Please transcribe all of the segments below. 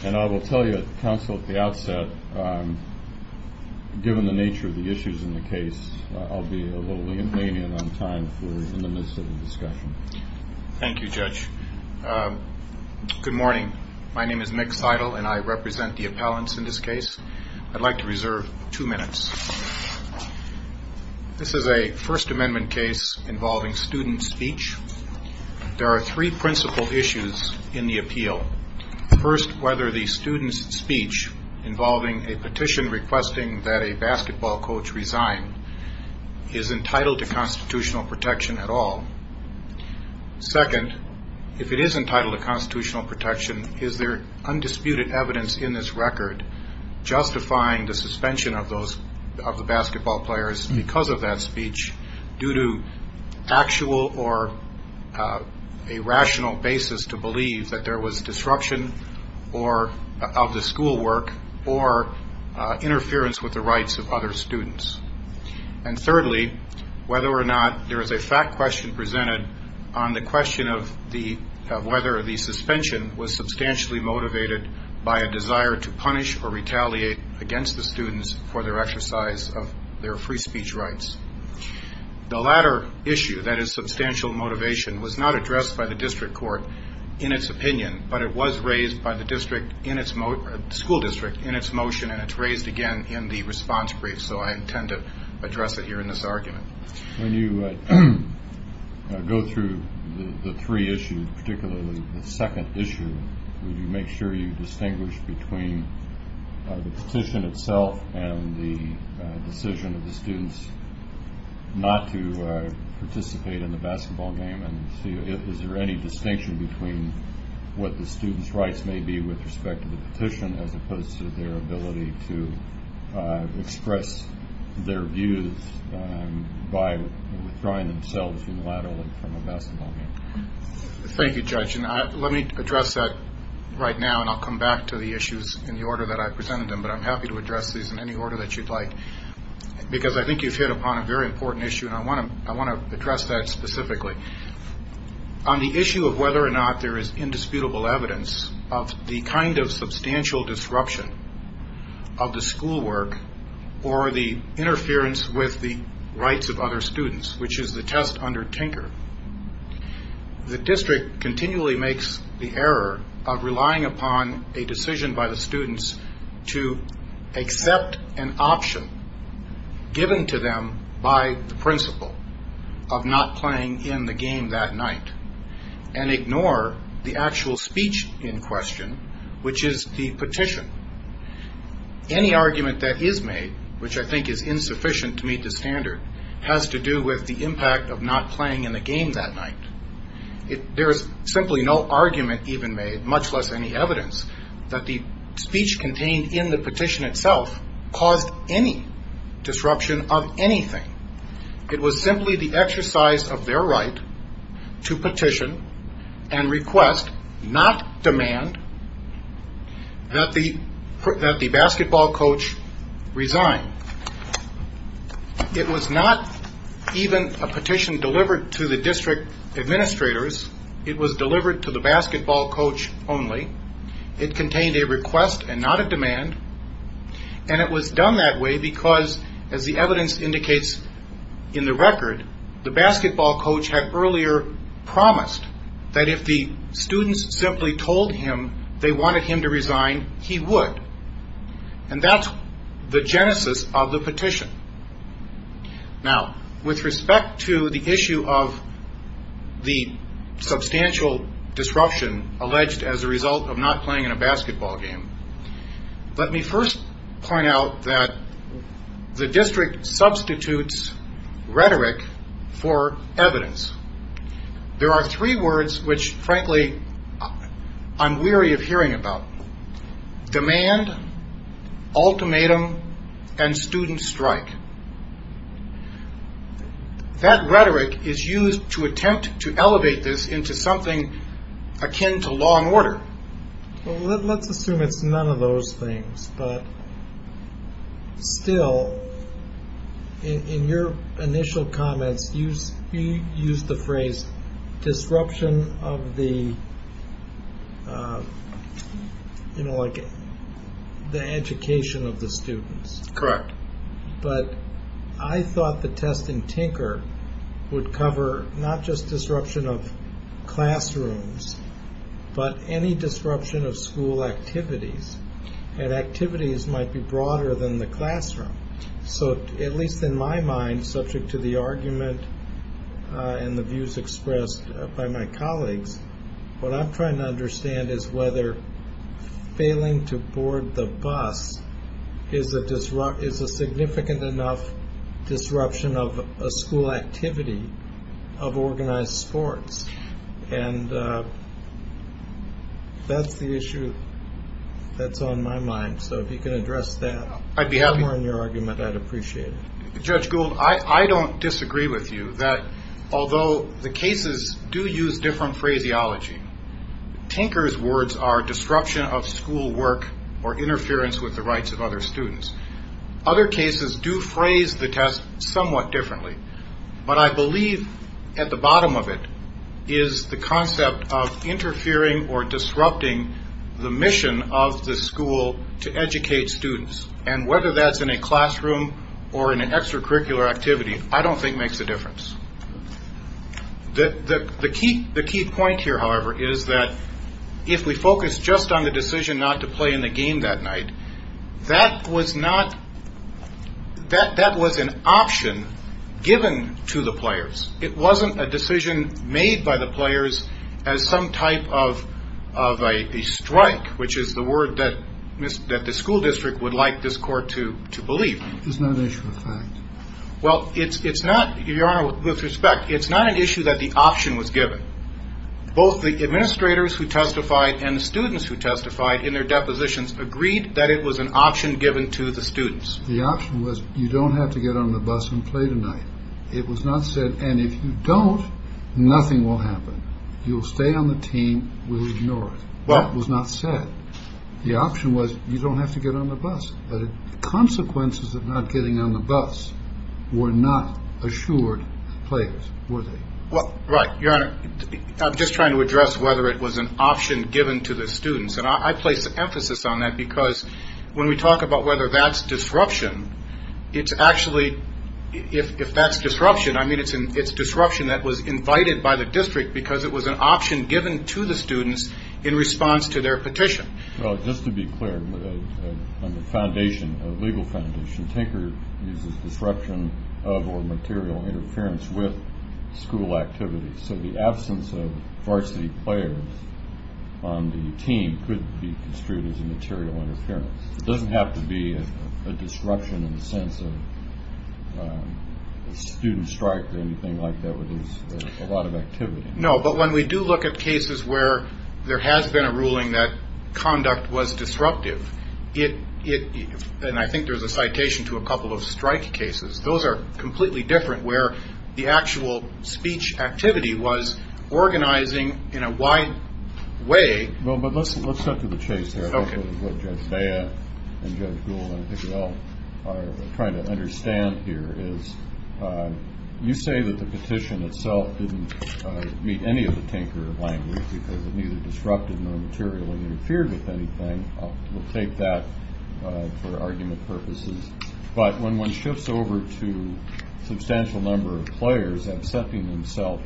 I will tell you, counsel, at the outset, given the nature of the issues in the case, I'll be a little lenient on time in the midst of the discussion. Thank you, Judge. Good morning. My name is Mick Seidel and I represent the appellants in this case. I'd like to reserve two minutes. This is a First Amendment case involving student speech. There are three principal issues in the appeal. First, whether the student's speech involving a petition requesting that a basketball coach resign is entitled to constitutional protection at all. Second, if it is entitled to constitutional protection, is there undisputed evidence in this record justifying the suspension of the basketball players because of that or a rational basis to believe that there was disruption of the schoolwork or interference with the rights of other students? And thirdly, whether or not there is a fact question presented on the question of whether the suspension was substantially motivated by a desire to punish or retaliate against the students for their exercise of their free speech rights. The latter issue, that is substantial motivation, was not addressed by the district court in its opinion, but it was raised by the school district in its motion and it's raised again in the response brief, so I intend to address it here in this argument. When you go through the three issues, particularly the second issue, would you make sure you not to participate in the basketball game and is there any distinction between what the student's rights may be with respect to the petition as opposed to their ability to express their views by withdrawing themselves unilaterally from a basketball game? Thank you, Judge. Let me address that right now and I'll come back to the issues in the order that I presented them, but I'm happy to address these in any order that you'd like because I think you've hit upon a very important issue and I want to address that specifically. On the issue of whether or not there is indisputable evidence of the kind of substantial disruption of the school work or the interference with the rights of other students, which is the test under Tinker, the district continually makes the error of relying upon a decision by the students to accept an option given to them by the principle of not playing in the game that night and ignore the actual speech in question, which is the petition. Any argument that is made, which I think is insufficient to meet the standard, has to do with the impact of not playing in the game that night. There is simply no argument even made, much less any evidence, that the speech contained in the petition itself caused any disruption of anything. It was simply the exercise of their right to petition and request, not demand, that the basketball coach resign. It was not even a petition delivered to the coach only. It contained a request and not a demand. And it was done that way because, as the evidence indicates in the record, the basketball coach had earlier promised that if the students simply told him they wanted him to resign, he would. And that's the genesis of the petition. Now, with respect to the issue of the substantial disruption alleged as a result of not playing in a basketball game, let me first point out that the district substitutes rhetoric for evidence. There are three words which, frankly, I'm weary of hearing about. Demand, ultimatum, and student strike. That rhetoric is used to attempt to elevate this into something akin to law and order. Well, let's assume it's none of those things. But still, in your initial comments, you used the phrase, disruption of the, you know, like, the education of the students. Correct. But I thought the test in Tinker would cover not just disruption of classrooms, but any disruption of school activities. And activities might be broader than the classroom. So, at least in my mind, subject to the argument and the views expressed by my colleagues, what I'm trying to understand is whether failing to board the bus is a disruption is a significant enough disruption of a school activity of organized sports. And that's the issue that's on my mind. So, if you can address that. I'd be happy. More in your argument, I'd appreciate it. Judge Gould, I don't disagree with you that, although the cases do use different phraseology, Tinker's words are disruption of school work or interference with the rights of other students. Other cases do phrase the test somewhat differently. But I believe at the bottom of it is the concept of interfering or disrupting the mission of the school to educate students. And whether that's in a classroom or in an extracurricular activity, I don't think makes a difference. The key point here, however, is that if we focus just on the decision not to play in the game that night, that was an option given to the players. It wasn't a decision made by the players as some type of a strike, which is the word that the school district would like this court to believe. It's not an issue of fact. Well, it's not, Your Honor, with respect, it's not an issue that the option was given. Both the administrators who testified and the students who testified in their depositions agreed that it was an option given to the students. The option was you don't have to get on the bus and play tonight. It was not said, and if you don't, nothing will happen. You'll stay on the team. We'll ignore it. Well, it was not said. The option was you don't have to get on the bus. Consequences of not getting on the bus were not assured players were they? Right. Your Honor, I'm just trying to address whether it was an option given to the students. And I place emphasis on that because when we talk about whether that's disruption, it's actually if that's disruption, I mean, it's disruption that was invited by the district because it was an option given to the students in response to their petition. Well, just to be clear, on the legal foundation, Tinker uses disruption of or material interference with school activities. So the absence of varsity players on the team could be construed as a material interference. It doesn't have to be a disruption in the sense of a student strike or anything like that where there's a lot of activity. No, but when we do look at cases where there has been a ruling that conduct was disruptive, it and I think there's a citation to a couple of strike cases. Those are completely different where the actual speech activity was organizing in a wide way. Well, but let's let's go to the chase. Okay. And I think we all are trying to understand here is you say that the petition itself didn't meet any of the Tinker language, because it neither disrupted nor materially interfered with anything. We'll take that for argument purposes. But when one shifts over to substantial number of players accepting himself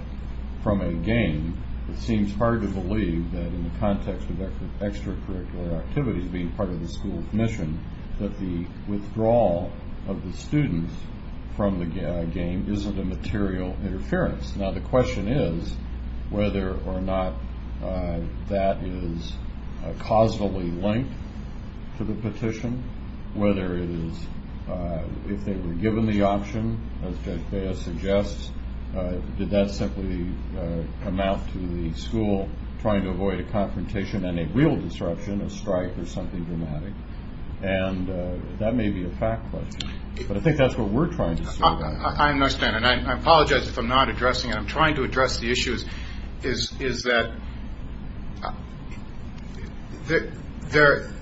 from a game, it seems hard to believe that in the context of extracurricular activities being part of the school's mission, that the withdrawal of the students from the game isn't a material interference. Now, the question is whether or not that is causally linked to the petition, whether it is if they were given the option, as Judge Bea suggests, did that simply amount to the school trying to avoid a confrontation and a real disruption, a strike or something dramatic. And that may be a fact. But I think that's what we're trying to. I understand. And I apologize if I'm not addressing. I'm trying to address the issues is is that there.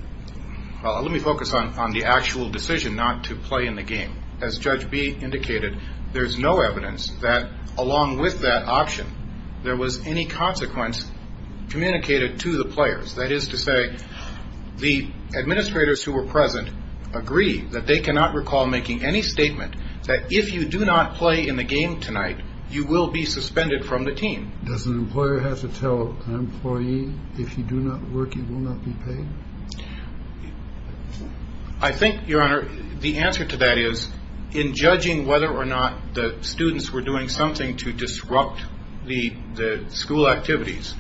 Let me focus on the actual decision not to play in the game. As Judge Bea indicated, there's no evidence that along with that option, there was any consequence communicated to the players. That is to say, the administrators who were present agree that they cannot recall making any statement that if you do not play in the game tonight, you will be suspended from the team. Does an employer have to tell an employee if you do not work, you will not be paid? I think, Your Honor, the answer to that is in judging whether or not the students were doing something to disrupt the school activities,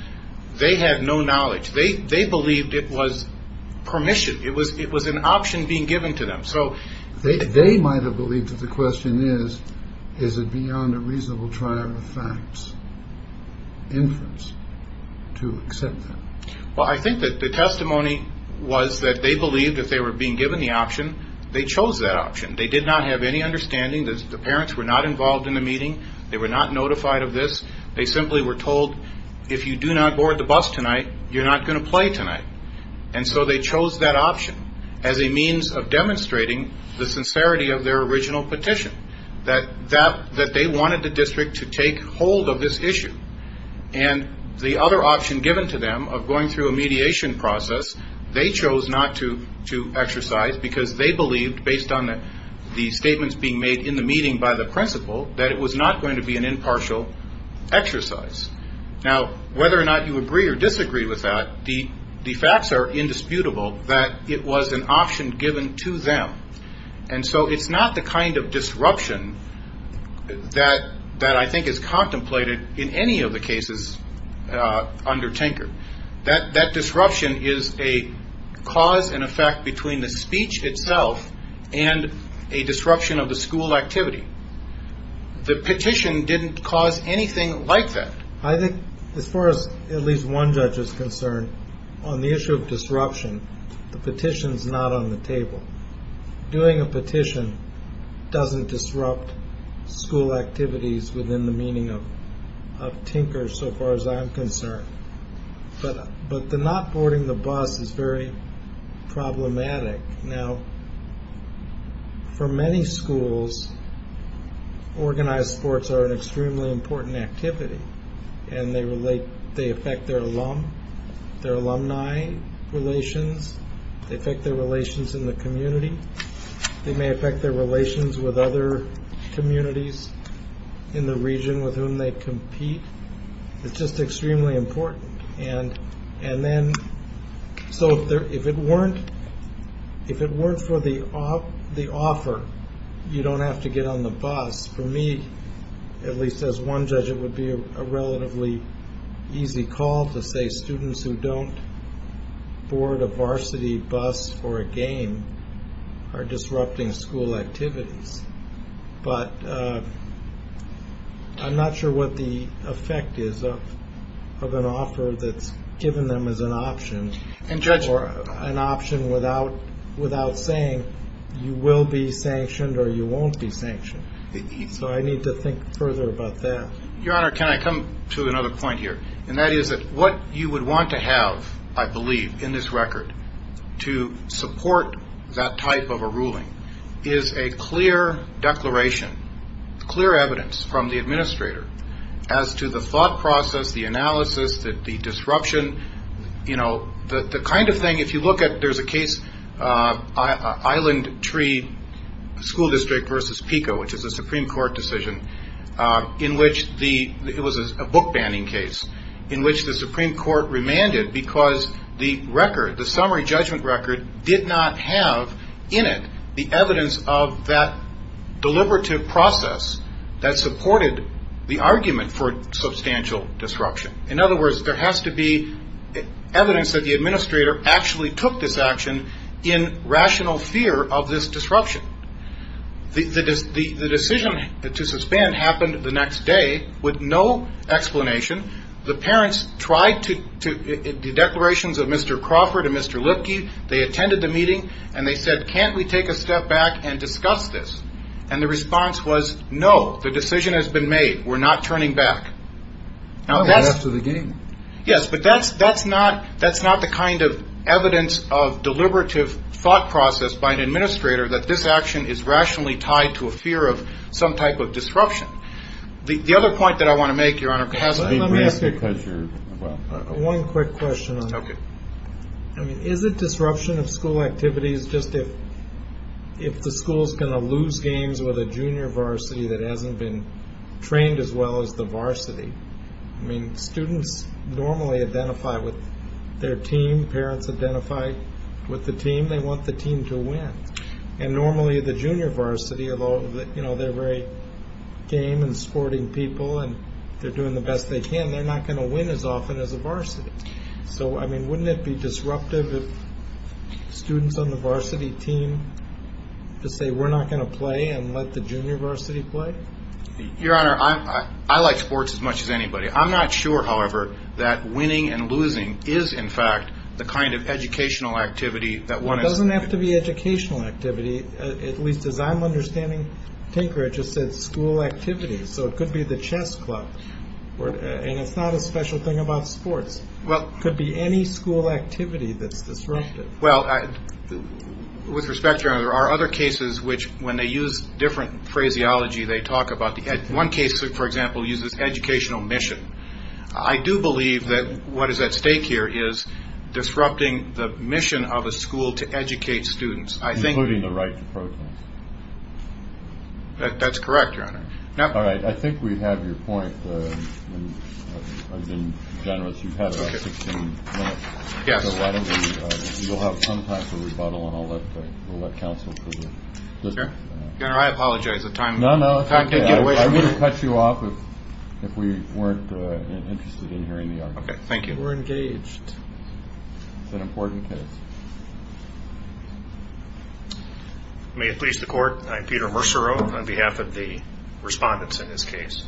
they had no knowledge. They they believed it was permission. It was it was an option being given to them. So they might have believed that the question is, is it beyond a reasonable trial of facts? Influence to accept that. Well, I think that the testimony was that they believed if they were being given the option, they chose that option. They did not have any understanding. The parents were not involved in the meeting. They were not notified of this. They simply were told, if you do not board the bus tonight, you're not going to play tonight. And so they chose that option as a means of demonstrating the sincerity of their original petition. That that that they wanted the district to take hold of this issue. And the other option given to them of going through a mediation process, they chose not to to exercise because they believed, based on the statements being made in the meeting by the principal, that it was not going to be an impartial exercise. Now, whether or not you agree or disagree with that, the facts are indisputable that it was an option given to them. And so it's not the kind of disruption that that I think is contemplated in any of the cases under Tinker, that that disruption is a cause and effect between the speech itself and a disruption of the school activity. The petition didn't cause anything like that. I think as far as at least one judge is concerned on the issue of disruption, the petition is not on the table. Doing a petition doesn't disrupt school activities within the meaning of Tinker, so far as I'm concerned. But the not boarding the bus is very problematic. Now, for many schools, organized sports are an extremely important activity and they affect their alumni relations, they affect their relations in the community, they may affect their relations with other communities in the region with whom they compete. It's just extremely important. So if it weren't for the offer, you don't have to get on the bus. For me, at least as one judge, it would be a relatively easy call to say students who don't board a varsity bus for a game are disrupting school activities. But I'm not sure what the effect is of an offer that's given them as an option or an option without saying you will be sanctioned or you won't be sanctioned. So I need to think further about that. Your Honor, can I come to another point here? And that is that what you would want to have, I believe, in this record to support that type of a ruling is a clear declaration, clear evidence from the administrator as to the thought process, the analysis, the disruption, you know, the kind of thing if you look at there's a case, Island Tree School District versus PICO, which is a Supreme Court decision in which the it was a book banning case in which the Supreme Court remanded because the record, the summary judgment record did not have in it the evidence of that deliberative process that supported the argument for substantial disruption. In other words, there has to be evidence that the administrator actually took this action in rational fear of this disruption. The decision to suspend happened the next day with no explanation. The parents tried to the declarations of Mr. Crawford and Mr. Lipke. They attended the meeting and they said, can't we take a step back and discuss this? And the response was, no, the decision has been made. We're not turning back after the game. Yes, but that's that's not that's not the kind of evidence of deliberative thought process by an administrator that this action is rationally tied to a fear of some type of disruption. The other point that I want to make, Your Honor, one quick question. I mean, is it disruption of school activities just if if the school's going to lose games with a junior varsity that hasn't been trained as well as the varsity? I mean, students normally identify with their team. Parents identify with the team. They want the team to win. And normally the junior varsity, although they're very game and sporting people and they're doing the best they can, they're not going to win as often as a varsity. So, I mean, wouldn't it be disruptive if students on the varsity team to say we're not going to lose anybody? I'm not sure, however, that winning and losing is, in fact, the kind of educational activity that one doesn't have to be educational activity. At least as I'm understanding, Tinker just said school activities. So it could be the chess club and it's not a special thing about sports. Well, could be any school activity. That's disruptive. Well, with respect, there are other cases which when they use different phraseology they talk about. One case, for example, uses educational mission. I do believe that what is at stake here is disrupting the mission of a school to educate students. Including the right to protest. That's correct, Your Honor. All right, I think we have your point. I've been generous. You've had about 16 minutes. You'll have some time for rebuttal and I'll let counsel No, no, I'm going to cut you off if we weren't interested in hearing the argument. We're engaged. It's an important case. May it please the court, I'm Peter Mercereau on behalf of the respondents in this case.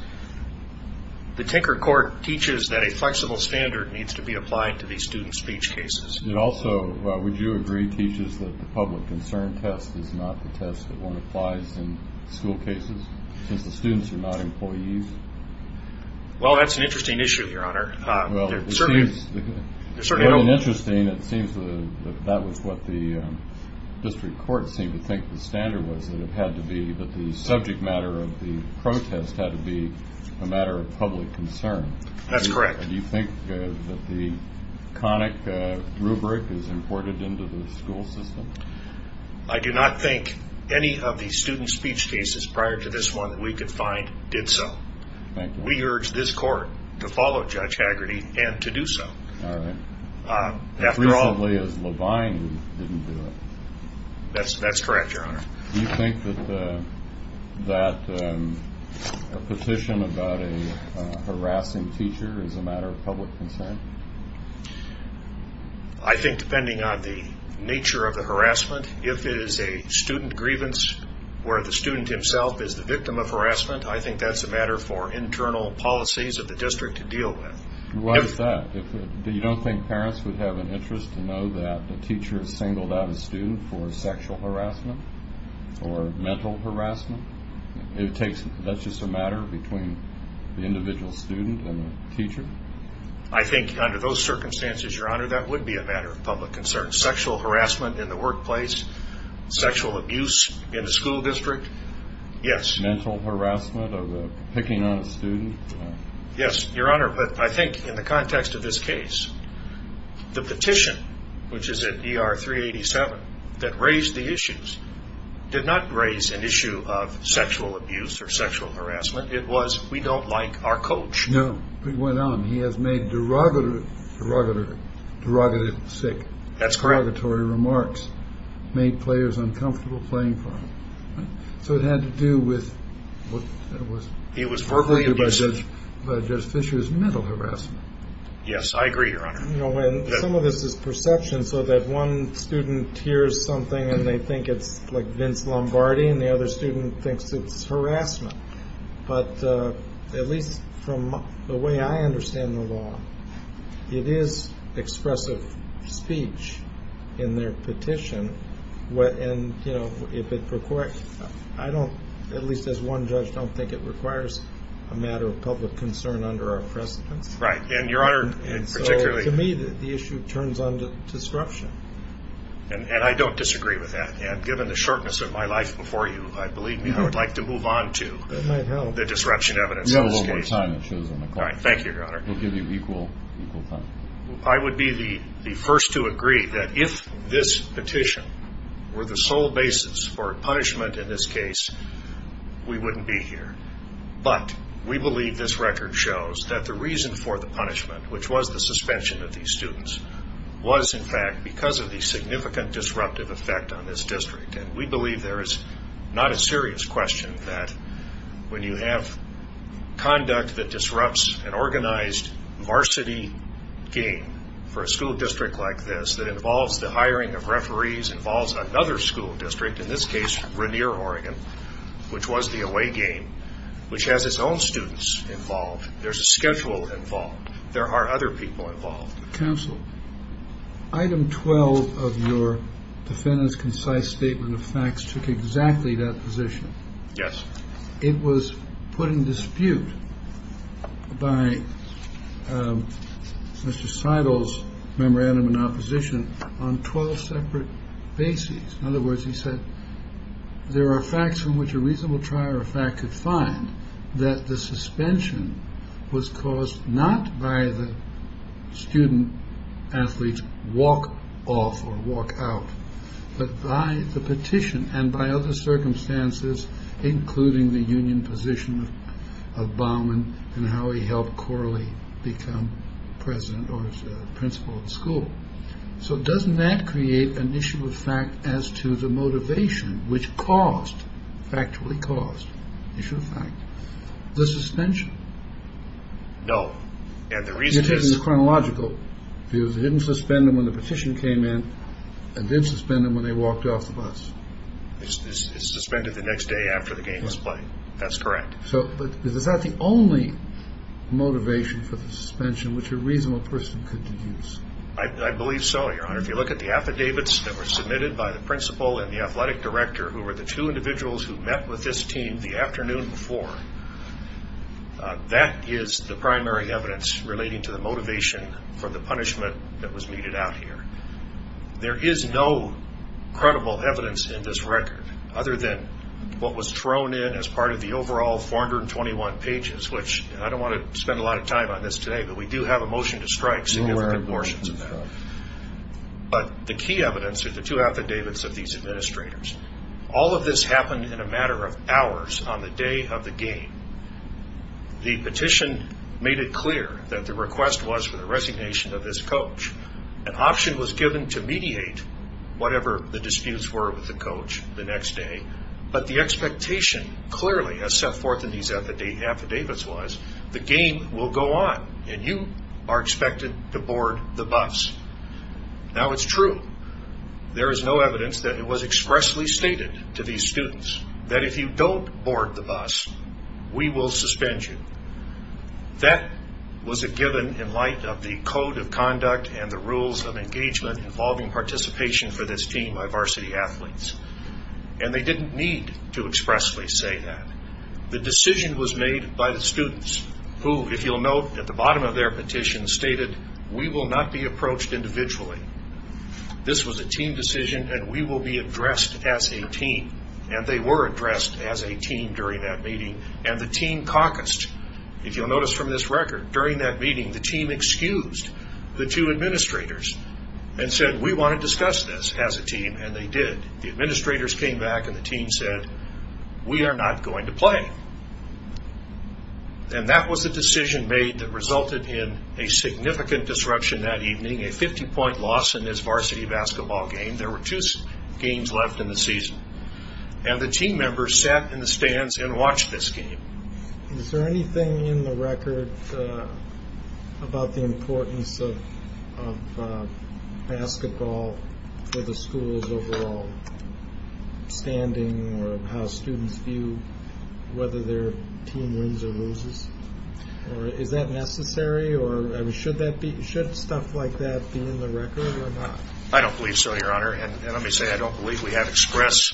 The Tinker court teaches that a flexible standard needs to be applied to these student speech cases. It also, would you agree, teaches that the public concern test is not the test that one applies in school cases since the students are not employees? Well, that's an interesting issue, Your Honor. It seems that that was what the district court seemed to think the standard was that it had to be that the subject matter of the protest had to be a matter of public concern. That's correct. Do you think that the conic rubric is imported into the school system? I do not think any of the student speech cases prior to this one that we could find did so. We urge this court to follow Judge Haggerty and to do so. Recently it was Levine who didn't do it. That's correct, Your Honor. Do you think that a petition about a harassing teacher is a matter of public concern? I think depending on the nature of the harassment, if it is a student grievance where the student himself is the victim of harassment, I think that's a matter for internal policies of the district to deal with. You don't think parents would have an interest to know that a teacher has singled out a student for sexual harassment or mental harassment? That's just a matter between the individual student and the teacher? I think under those circumstances, Your Honor, that would be a matter of public concern. Sexual harassment in the workplace, sexual abuse in a school district, yes. Mental harassment of a picking on a student? Yes, Your Honor, but I think in the context of this case, the petition, which is at ER 387, that raised the issues did not raise an issue of sexual abuse or sexual harassment. It was, we don't like our coach. No, it went on. He has made derogatory derogatory, derogatory, derogatory, derogatory, derogatory, derogatory, derogatory, derogatory derogatory remarks, made players uncomfortable playing for him. So it had to do with what was, it was verbally abusive. By Judge Fischer's mental harassment. Yes, I agree, Your Honor. Some of this is perception so that one student hears something and they think it's like Vince Lombardi and the other student thinks it's harassment. But at least from the way I understand the law, it is expressive speech in their petition, and if it requires, I don't, at least as one judge, don't think it requires a matter of public concern under our precedence. Right, and Your Honor, and so to me the issue turns on to disruption. And I don't have the disruption evidence. You have a little more time. Thank you, Your Honor. I would be the first to agree that if this petition were the sole basis for punishment in this case, we wouldn't be here. But we believe this record shows that the reason for the punishment, which was the suspension of these students, was in fact because of the significant disruptive effect on this district. And we believe there is not a serious question that when you have conduct that disrupts an organized varsity game for a school district like this that involves the hiring of referees, involves another school district, in this case Rainier, Oregon, which was the away game, which has its own students involved, there's a schedule involved, there are other people involved. Counsel, item 12 of your defendant's concise statement of facts took exactly that position. Yes. It was put in dispute by Mr. Seidel's memorandum in opposition on 12 separate bases. In other words, he said there are facts from which a reasonable trial or fact could find that the suspension was caused not by the student athletes walk off or walk out, but by the petition and by other circumstances, including the union position of Baumann and how he helped Corley become president or principal of the school. So doesn't that create an issue of fact as to the motivation which caused, factually caused, issue of fact, the suspension? No. And the reason is chronological. It didn't suspend them when the petition came in and didn't suspend them when they walked off the bus. It suspended the next day after the game was played. That's correct. Is that the only motivation for the suspension which a reasonable person could There is no credible evidence in this record other than what was thrown in as part of the overall 421 pages, which I don't want to spend a lot of time on this today, but we do have a motion to strike significant portions of that. All of this happened in a matter of hours on the day of the game. The petition made it clear that the request was for the resignation of this coach. An option was given to mediate whatever the disputes were with the coach the next day, but the expectation clearly as set forth in these affidavits was the game will go on and you are expected to board the bus. Now it's true. There is no evidence that it was expressly stated to these students that if you don't board the bus, we will suspend you. That was a given in light of the code of conduct and the rules of engagement involving participation for this team by varsity athletes. And they didn't need to expressly say that. The decision was made by the students who, if you'll note at the bottom of their petition, stated we will not be approached individually. This was a team decision and we will be addressed as a team. And they were addressed as a team during that meeting and the team caucused. If you'll notice from this record, during that meeting the team excused the two administrators and said we want to discuss this as a team and they did. The administrators came back and the team said we are not going to play. And that was the decision made that resulted in a significant disruption that evening. A 50 point loss in this varsity basketball game. There were two games left in the season. And the team members sat in the stands and watched this game. Is there anything in the record about the importance of basketball for the school's overall standing or how students view whether their team wins or loses? Is that necessary? Should stuff like that be in the record or not? I don't believe so, your honor. And let me say I don't believe we have express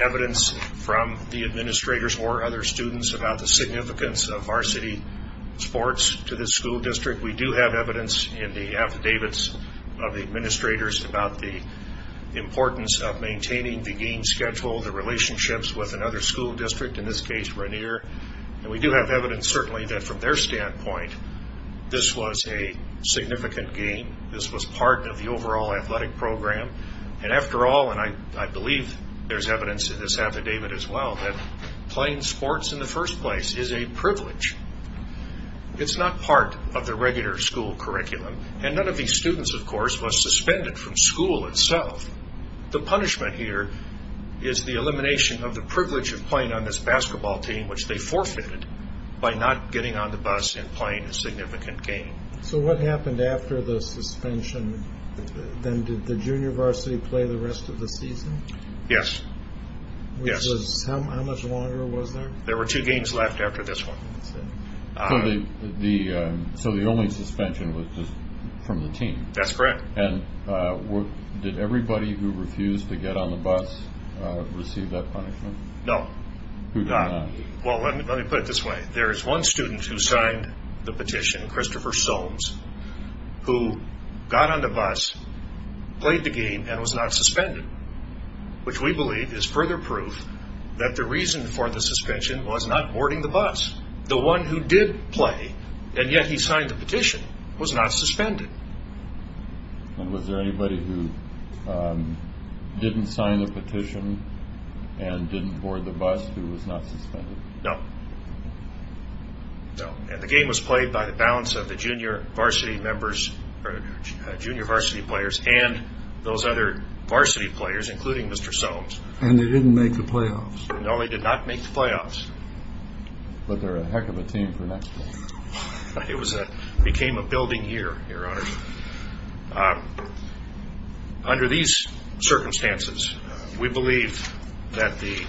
evidence from the administrators or other students about the significance of varsity sports to this school district. We do have evidence in the affidavits of the administrators about the importance of maintaining the game schedule, the relationships with another school district, in this case Rainier. And we do have evidence certainly that from their standpoint this was a significant game. This was part of the overall athletic program. And after all, and I believe there is evidence in this affidavit as well, that playing sports in the first place is a privilege. It's not part of the regular school curriculum. And none of these students of course was suspended from school itself. The punishment here is the elimination of the privilege of playing on this basketball team which they forfeited by not getting on the bus and playing a significant game. So what happened after the suspension? Then did the junior varsity play the rest of the season? Yes. How much longer was there? There were two games left after this one. So the only suspension was from the team? That's correct. And did everybody who refused to get on the bus receive that punishment? No. Who did not? Well let me put it this way. There is one student who signed the petition, Christopher Soames, who got on the bus, played the game, and was not suspended. Which we believe is further proof that the reason for the suspension was not boarding the bus. The one who did play, and yet he signed the petition, was not suspended. And was there anybody who didn't sign the petition and didn't board the bus who was not suspended? No. And the game was played by the balance of the junior varsity members, junior varsity players, and those other varsity players, including Mr. Soames. And they didn't make the playoffs? No, they did not make the playoffs. But they're a heck of a team for next year. It became a building year, Your Honor. Under these circumstances, we believe that the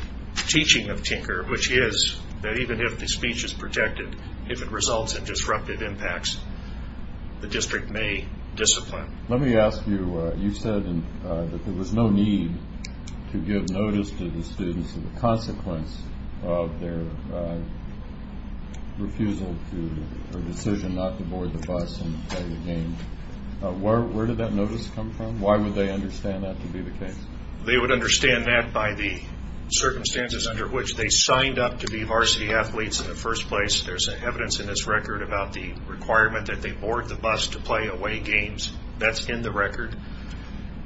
teaching of Tinker, which is that even if the speech is protected, if it results in disruptive impacts, the district may discipline. Let me ask you, you said that there was no need to give notice to the students of the consequence of their refusal to, or decision not to board the bus and play the game. Where did that notice come from? Why would they understand that to be the case? They would understand that by the circumstances under which they signed up to be varsity athletes in the first place. There's evidence in this record about the requirement that they board the bus to play away games. That's in the record.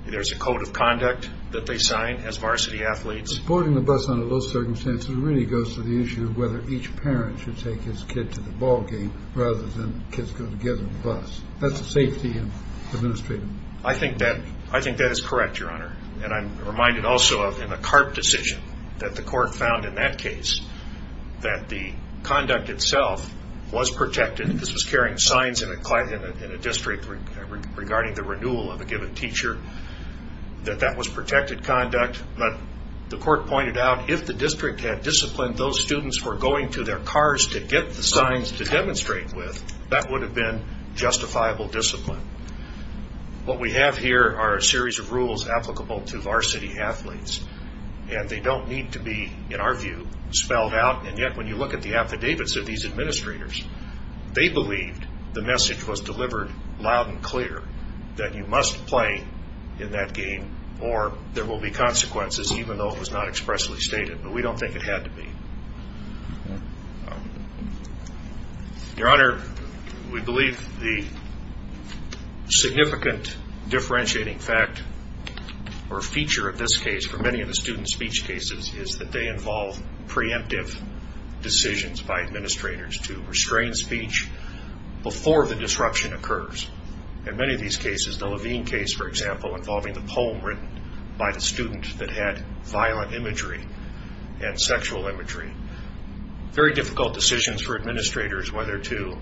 There's a code of conduct that they sign as varsity athletes. Boarding the bus under those circumstances really goes to the issue of whether each parent should take his kid to the ball game rather than kids going to get on the bus. That's the safety of the administrator. I think that is correct, Your Honor. And I'm reminded also of the CARP decision that the court found in that case that the conduct itself was protected. This was carrying signs in a district regarding the renewal of a given teacher, that that was protected conduct. But the court pointed out if the district had disciplined those students for going to their cars to get the signs to demonstrate with, that would have been justifiable discipline. What we have here are a series of rules applicable to varsity athletes. And they don't need to be, in our view, spelled out. And yet when you look at the rules, it's rather unclear that you must play in that game or there will be consequences even though it was not expressly stated. But we don't think it had to be. Your Honor, we believe the significant differentiating fact or feature of this case for many of the student speech cases is that they involve preemptive decisions by administrators to restrain speech before the disruption occurs. In many of these cases, the Levine case, for example, involving the poem written by the student that had violent imagery and sexual imagery. Very difficult decisions for administrators whether to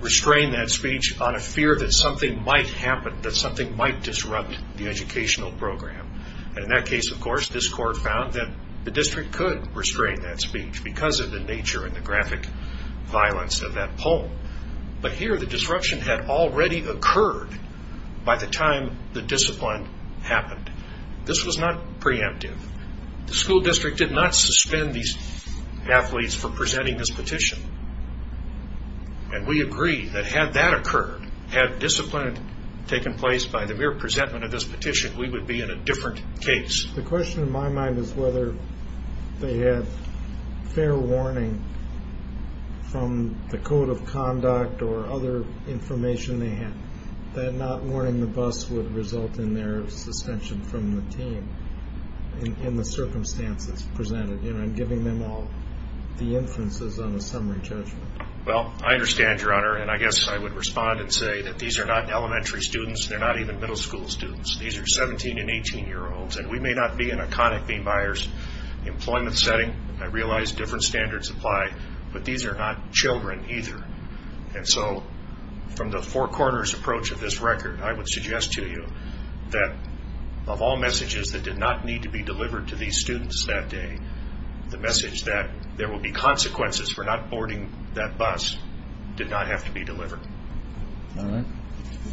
restrain that speech on a fear that something might happen, that something might disrupt the educational program. And in that case, of course, this court found that the district could restrain that speech because of the nature and the graphic violence of that poem. But here the disruption had already occurred by the time the discipline happened. This was not preemptive. The school district did not suspend these athletes for presenting this petition. And we agree that had that occurred, had discipline taken place by the mere presentment of this petition, we would be in a different case. The question in my mind is whether they had fair warning from the code of conduct or other information they had that not warning the bus would result in their suspension from the team in the circumstances presented. I'm giving them all the information they need to know. I would say that these are not elementary students. They're not even middle school students. These are 17 and 18 year olds. We may not be an iconic B Myers employment setting. I realize different standards apply, but these are not children either. And so from the four corners approach of this record, I would suggest to you that of all messages that did not need to be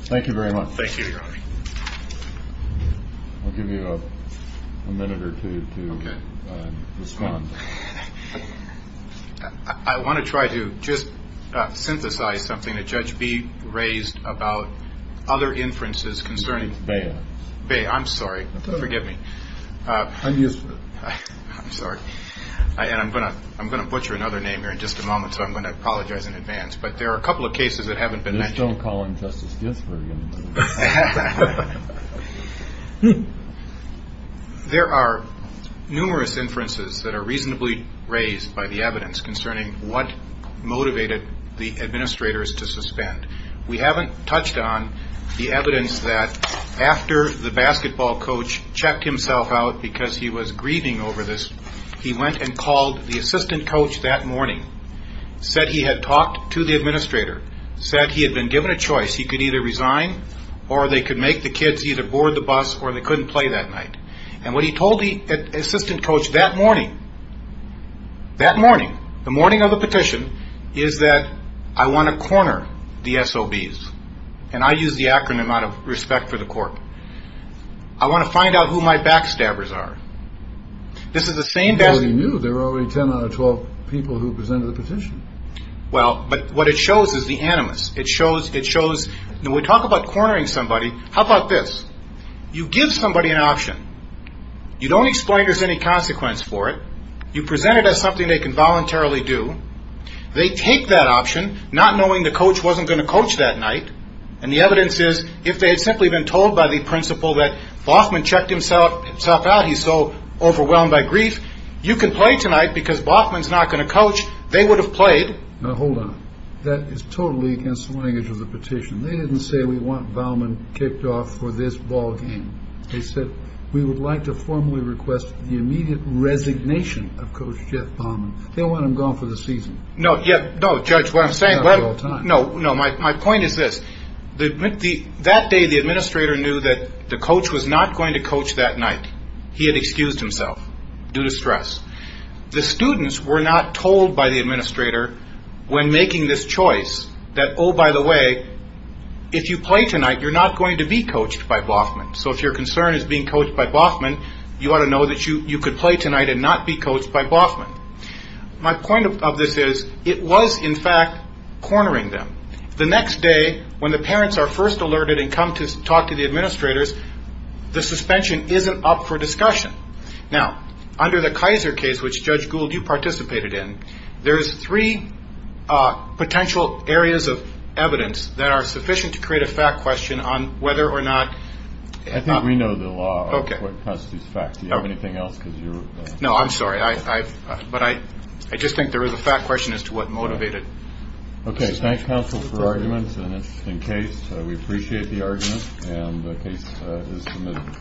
Thank you very much. Thank you. I'll give you a minute or two to respond. I want to try to just synthesize something that Judge B raised about other inferences concerning Bay. I'm sorry. Forgive me. I'm sorry. And I'm going to I'm going to butcher another name here in just a moment. So I'm going to apologize in advance. But there are a couple of cases that haven't been mentioned. There are numerous inferences that are reasonably raised by the evidence concerning what motivated the administrators to suspend. We haven't touched on the evidence that after the basketball coach checked himself out because he was grieving over this, he went and called the assistant coach that morning, said he had talked to the administrator, said he had been given a choice. He could either resign or they could make the kids either board the bus or they couldn't play that night. And what he told the assistant coach that morning, that morning, the morning of the petition, is that I want to corner the SOBs. And I use the acronym out of respect for the court. I want to find out who my backstabbers are. This is the same value. There are only 10 out of 12 people who presented the petition. Well, but what it shows is the animus. It shows it shows that we talk about cornering somebody. How about this? You give somebody an option. You don't explain there's any consequence for it. You present it as something they can voluntarily do. They take that option, not knowing the coach wasn't going to coach that night. And the evidence is if they had simply been told by the principal that Baughman checked himself out, he's so overwhelmed by grief, you can play tonight because Baughman's not going to coach. They would have played. Now, hold on. That is totally against the language of the petition. They didn't say we want Baughman kicked off for this ballgame. They said we would like to formally request the immediate resignation of Coach Jeff Baughman. They want him gone for the season. No, no, Judge, what I'm saying. No, no. My point is this. That day, the administrator knew that the coach was not going to coach that night. He had excused himself due to stress. The students were not told by the administrator when making this choice that, oh, by the way, if you want to know that you could play tonight and not be coached by Baughman. My point of this is it was, in fact, cornering them. The next day, when the parents are first alerted and come to talk to the administrators, the suspension isn't up for discussion. Now, under the Kaiser case, which Judge Gould, you participated in, there's three potential areas of evidence that are sufficient to create a fact question on whether or not. I think we know the law constitutes facts. Do you have anything else? No, I'm sorry. But I just think there is a fact question as to what motivated. Okay. Thank you, counsel, for arguments and an interesting case. We appreciate the argument and the case is submitted.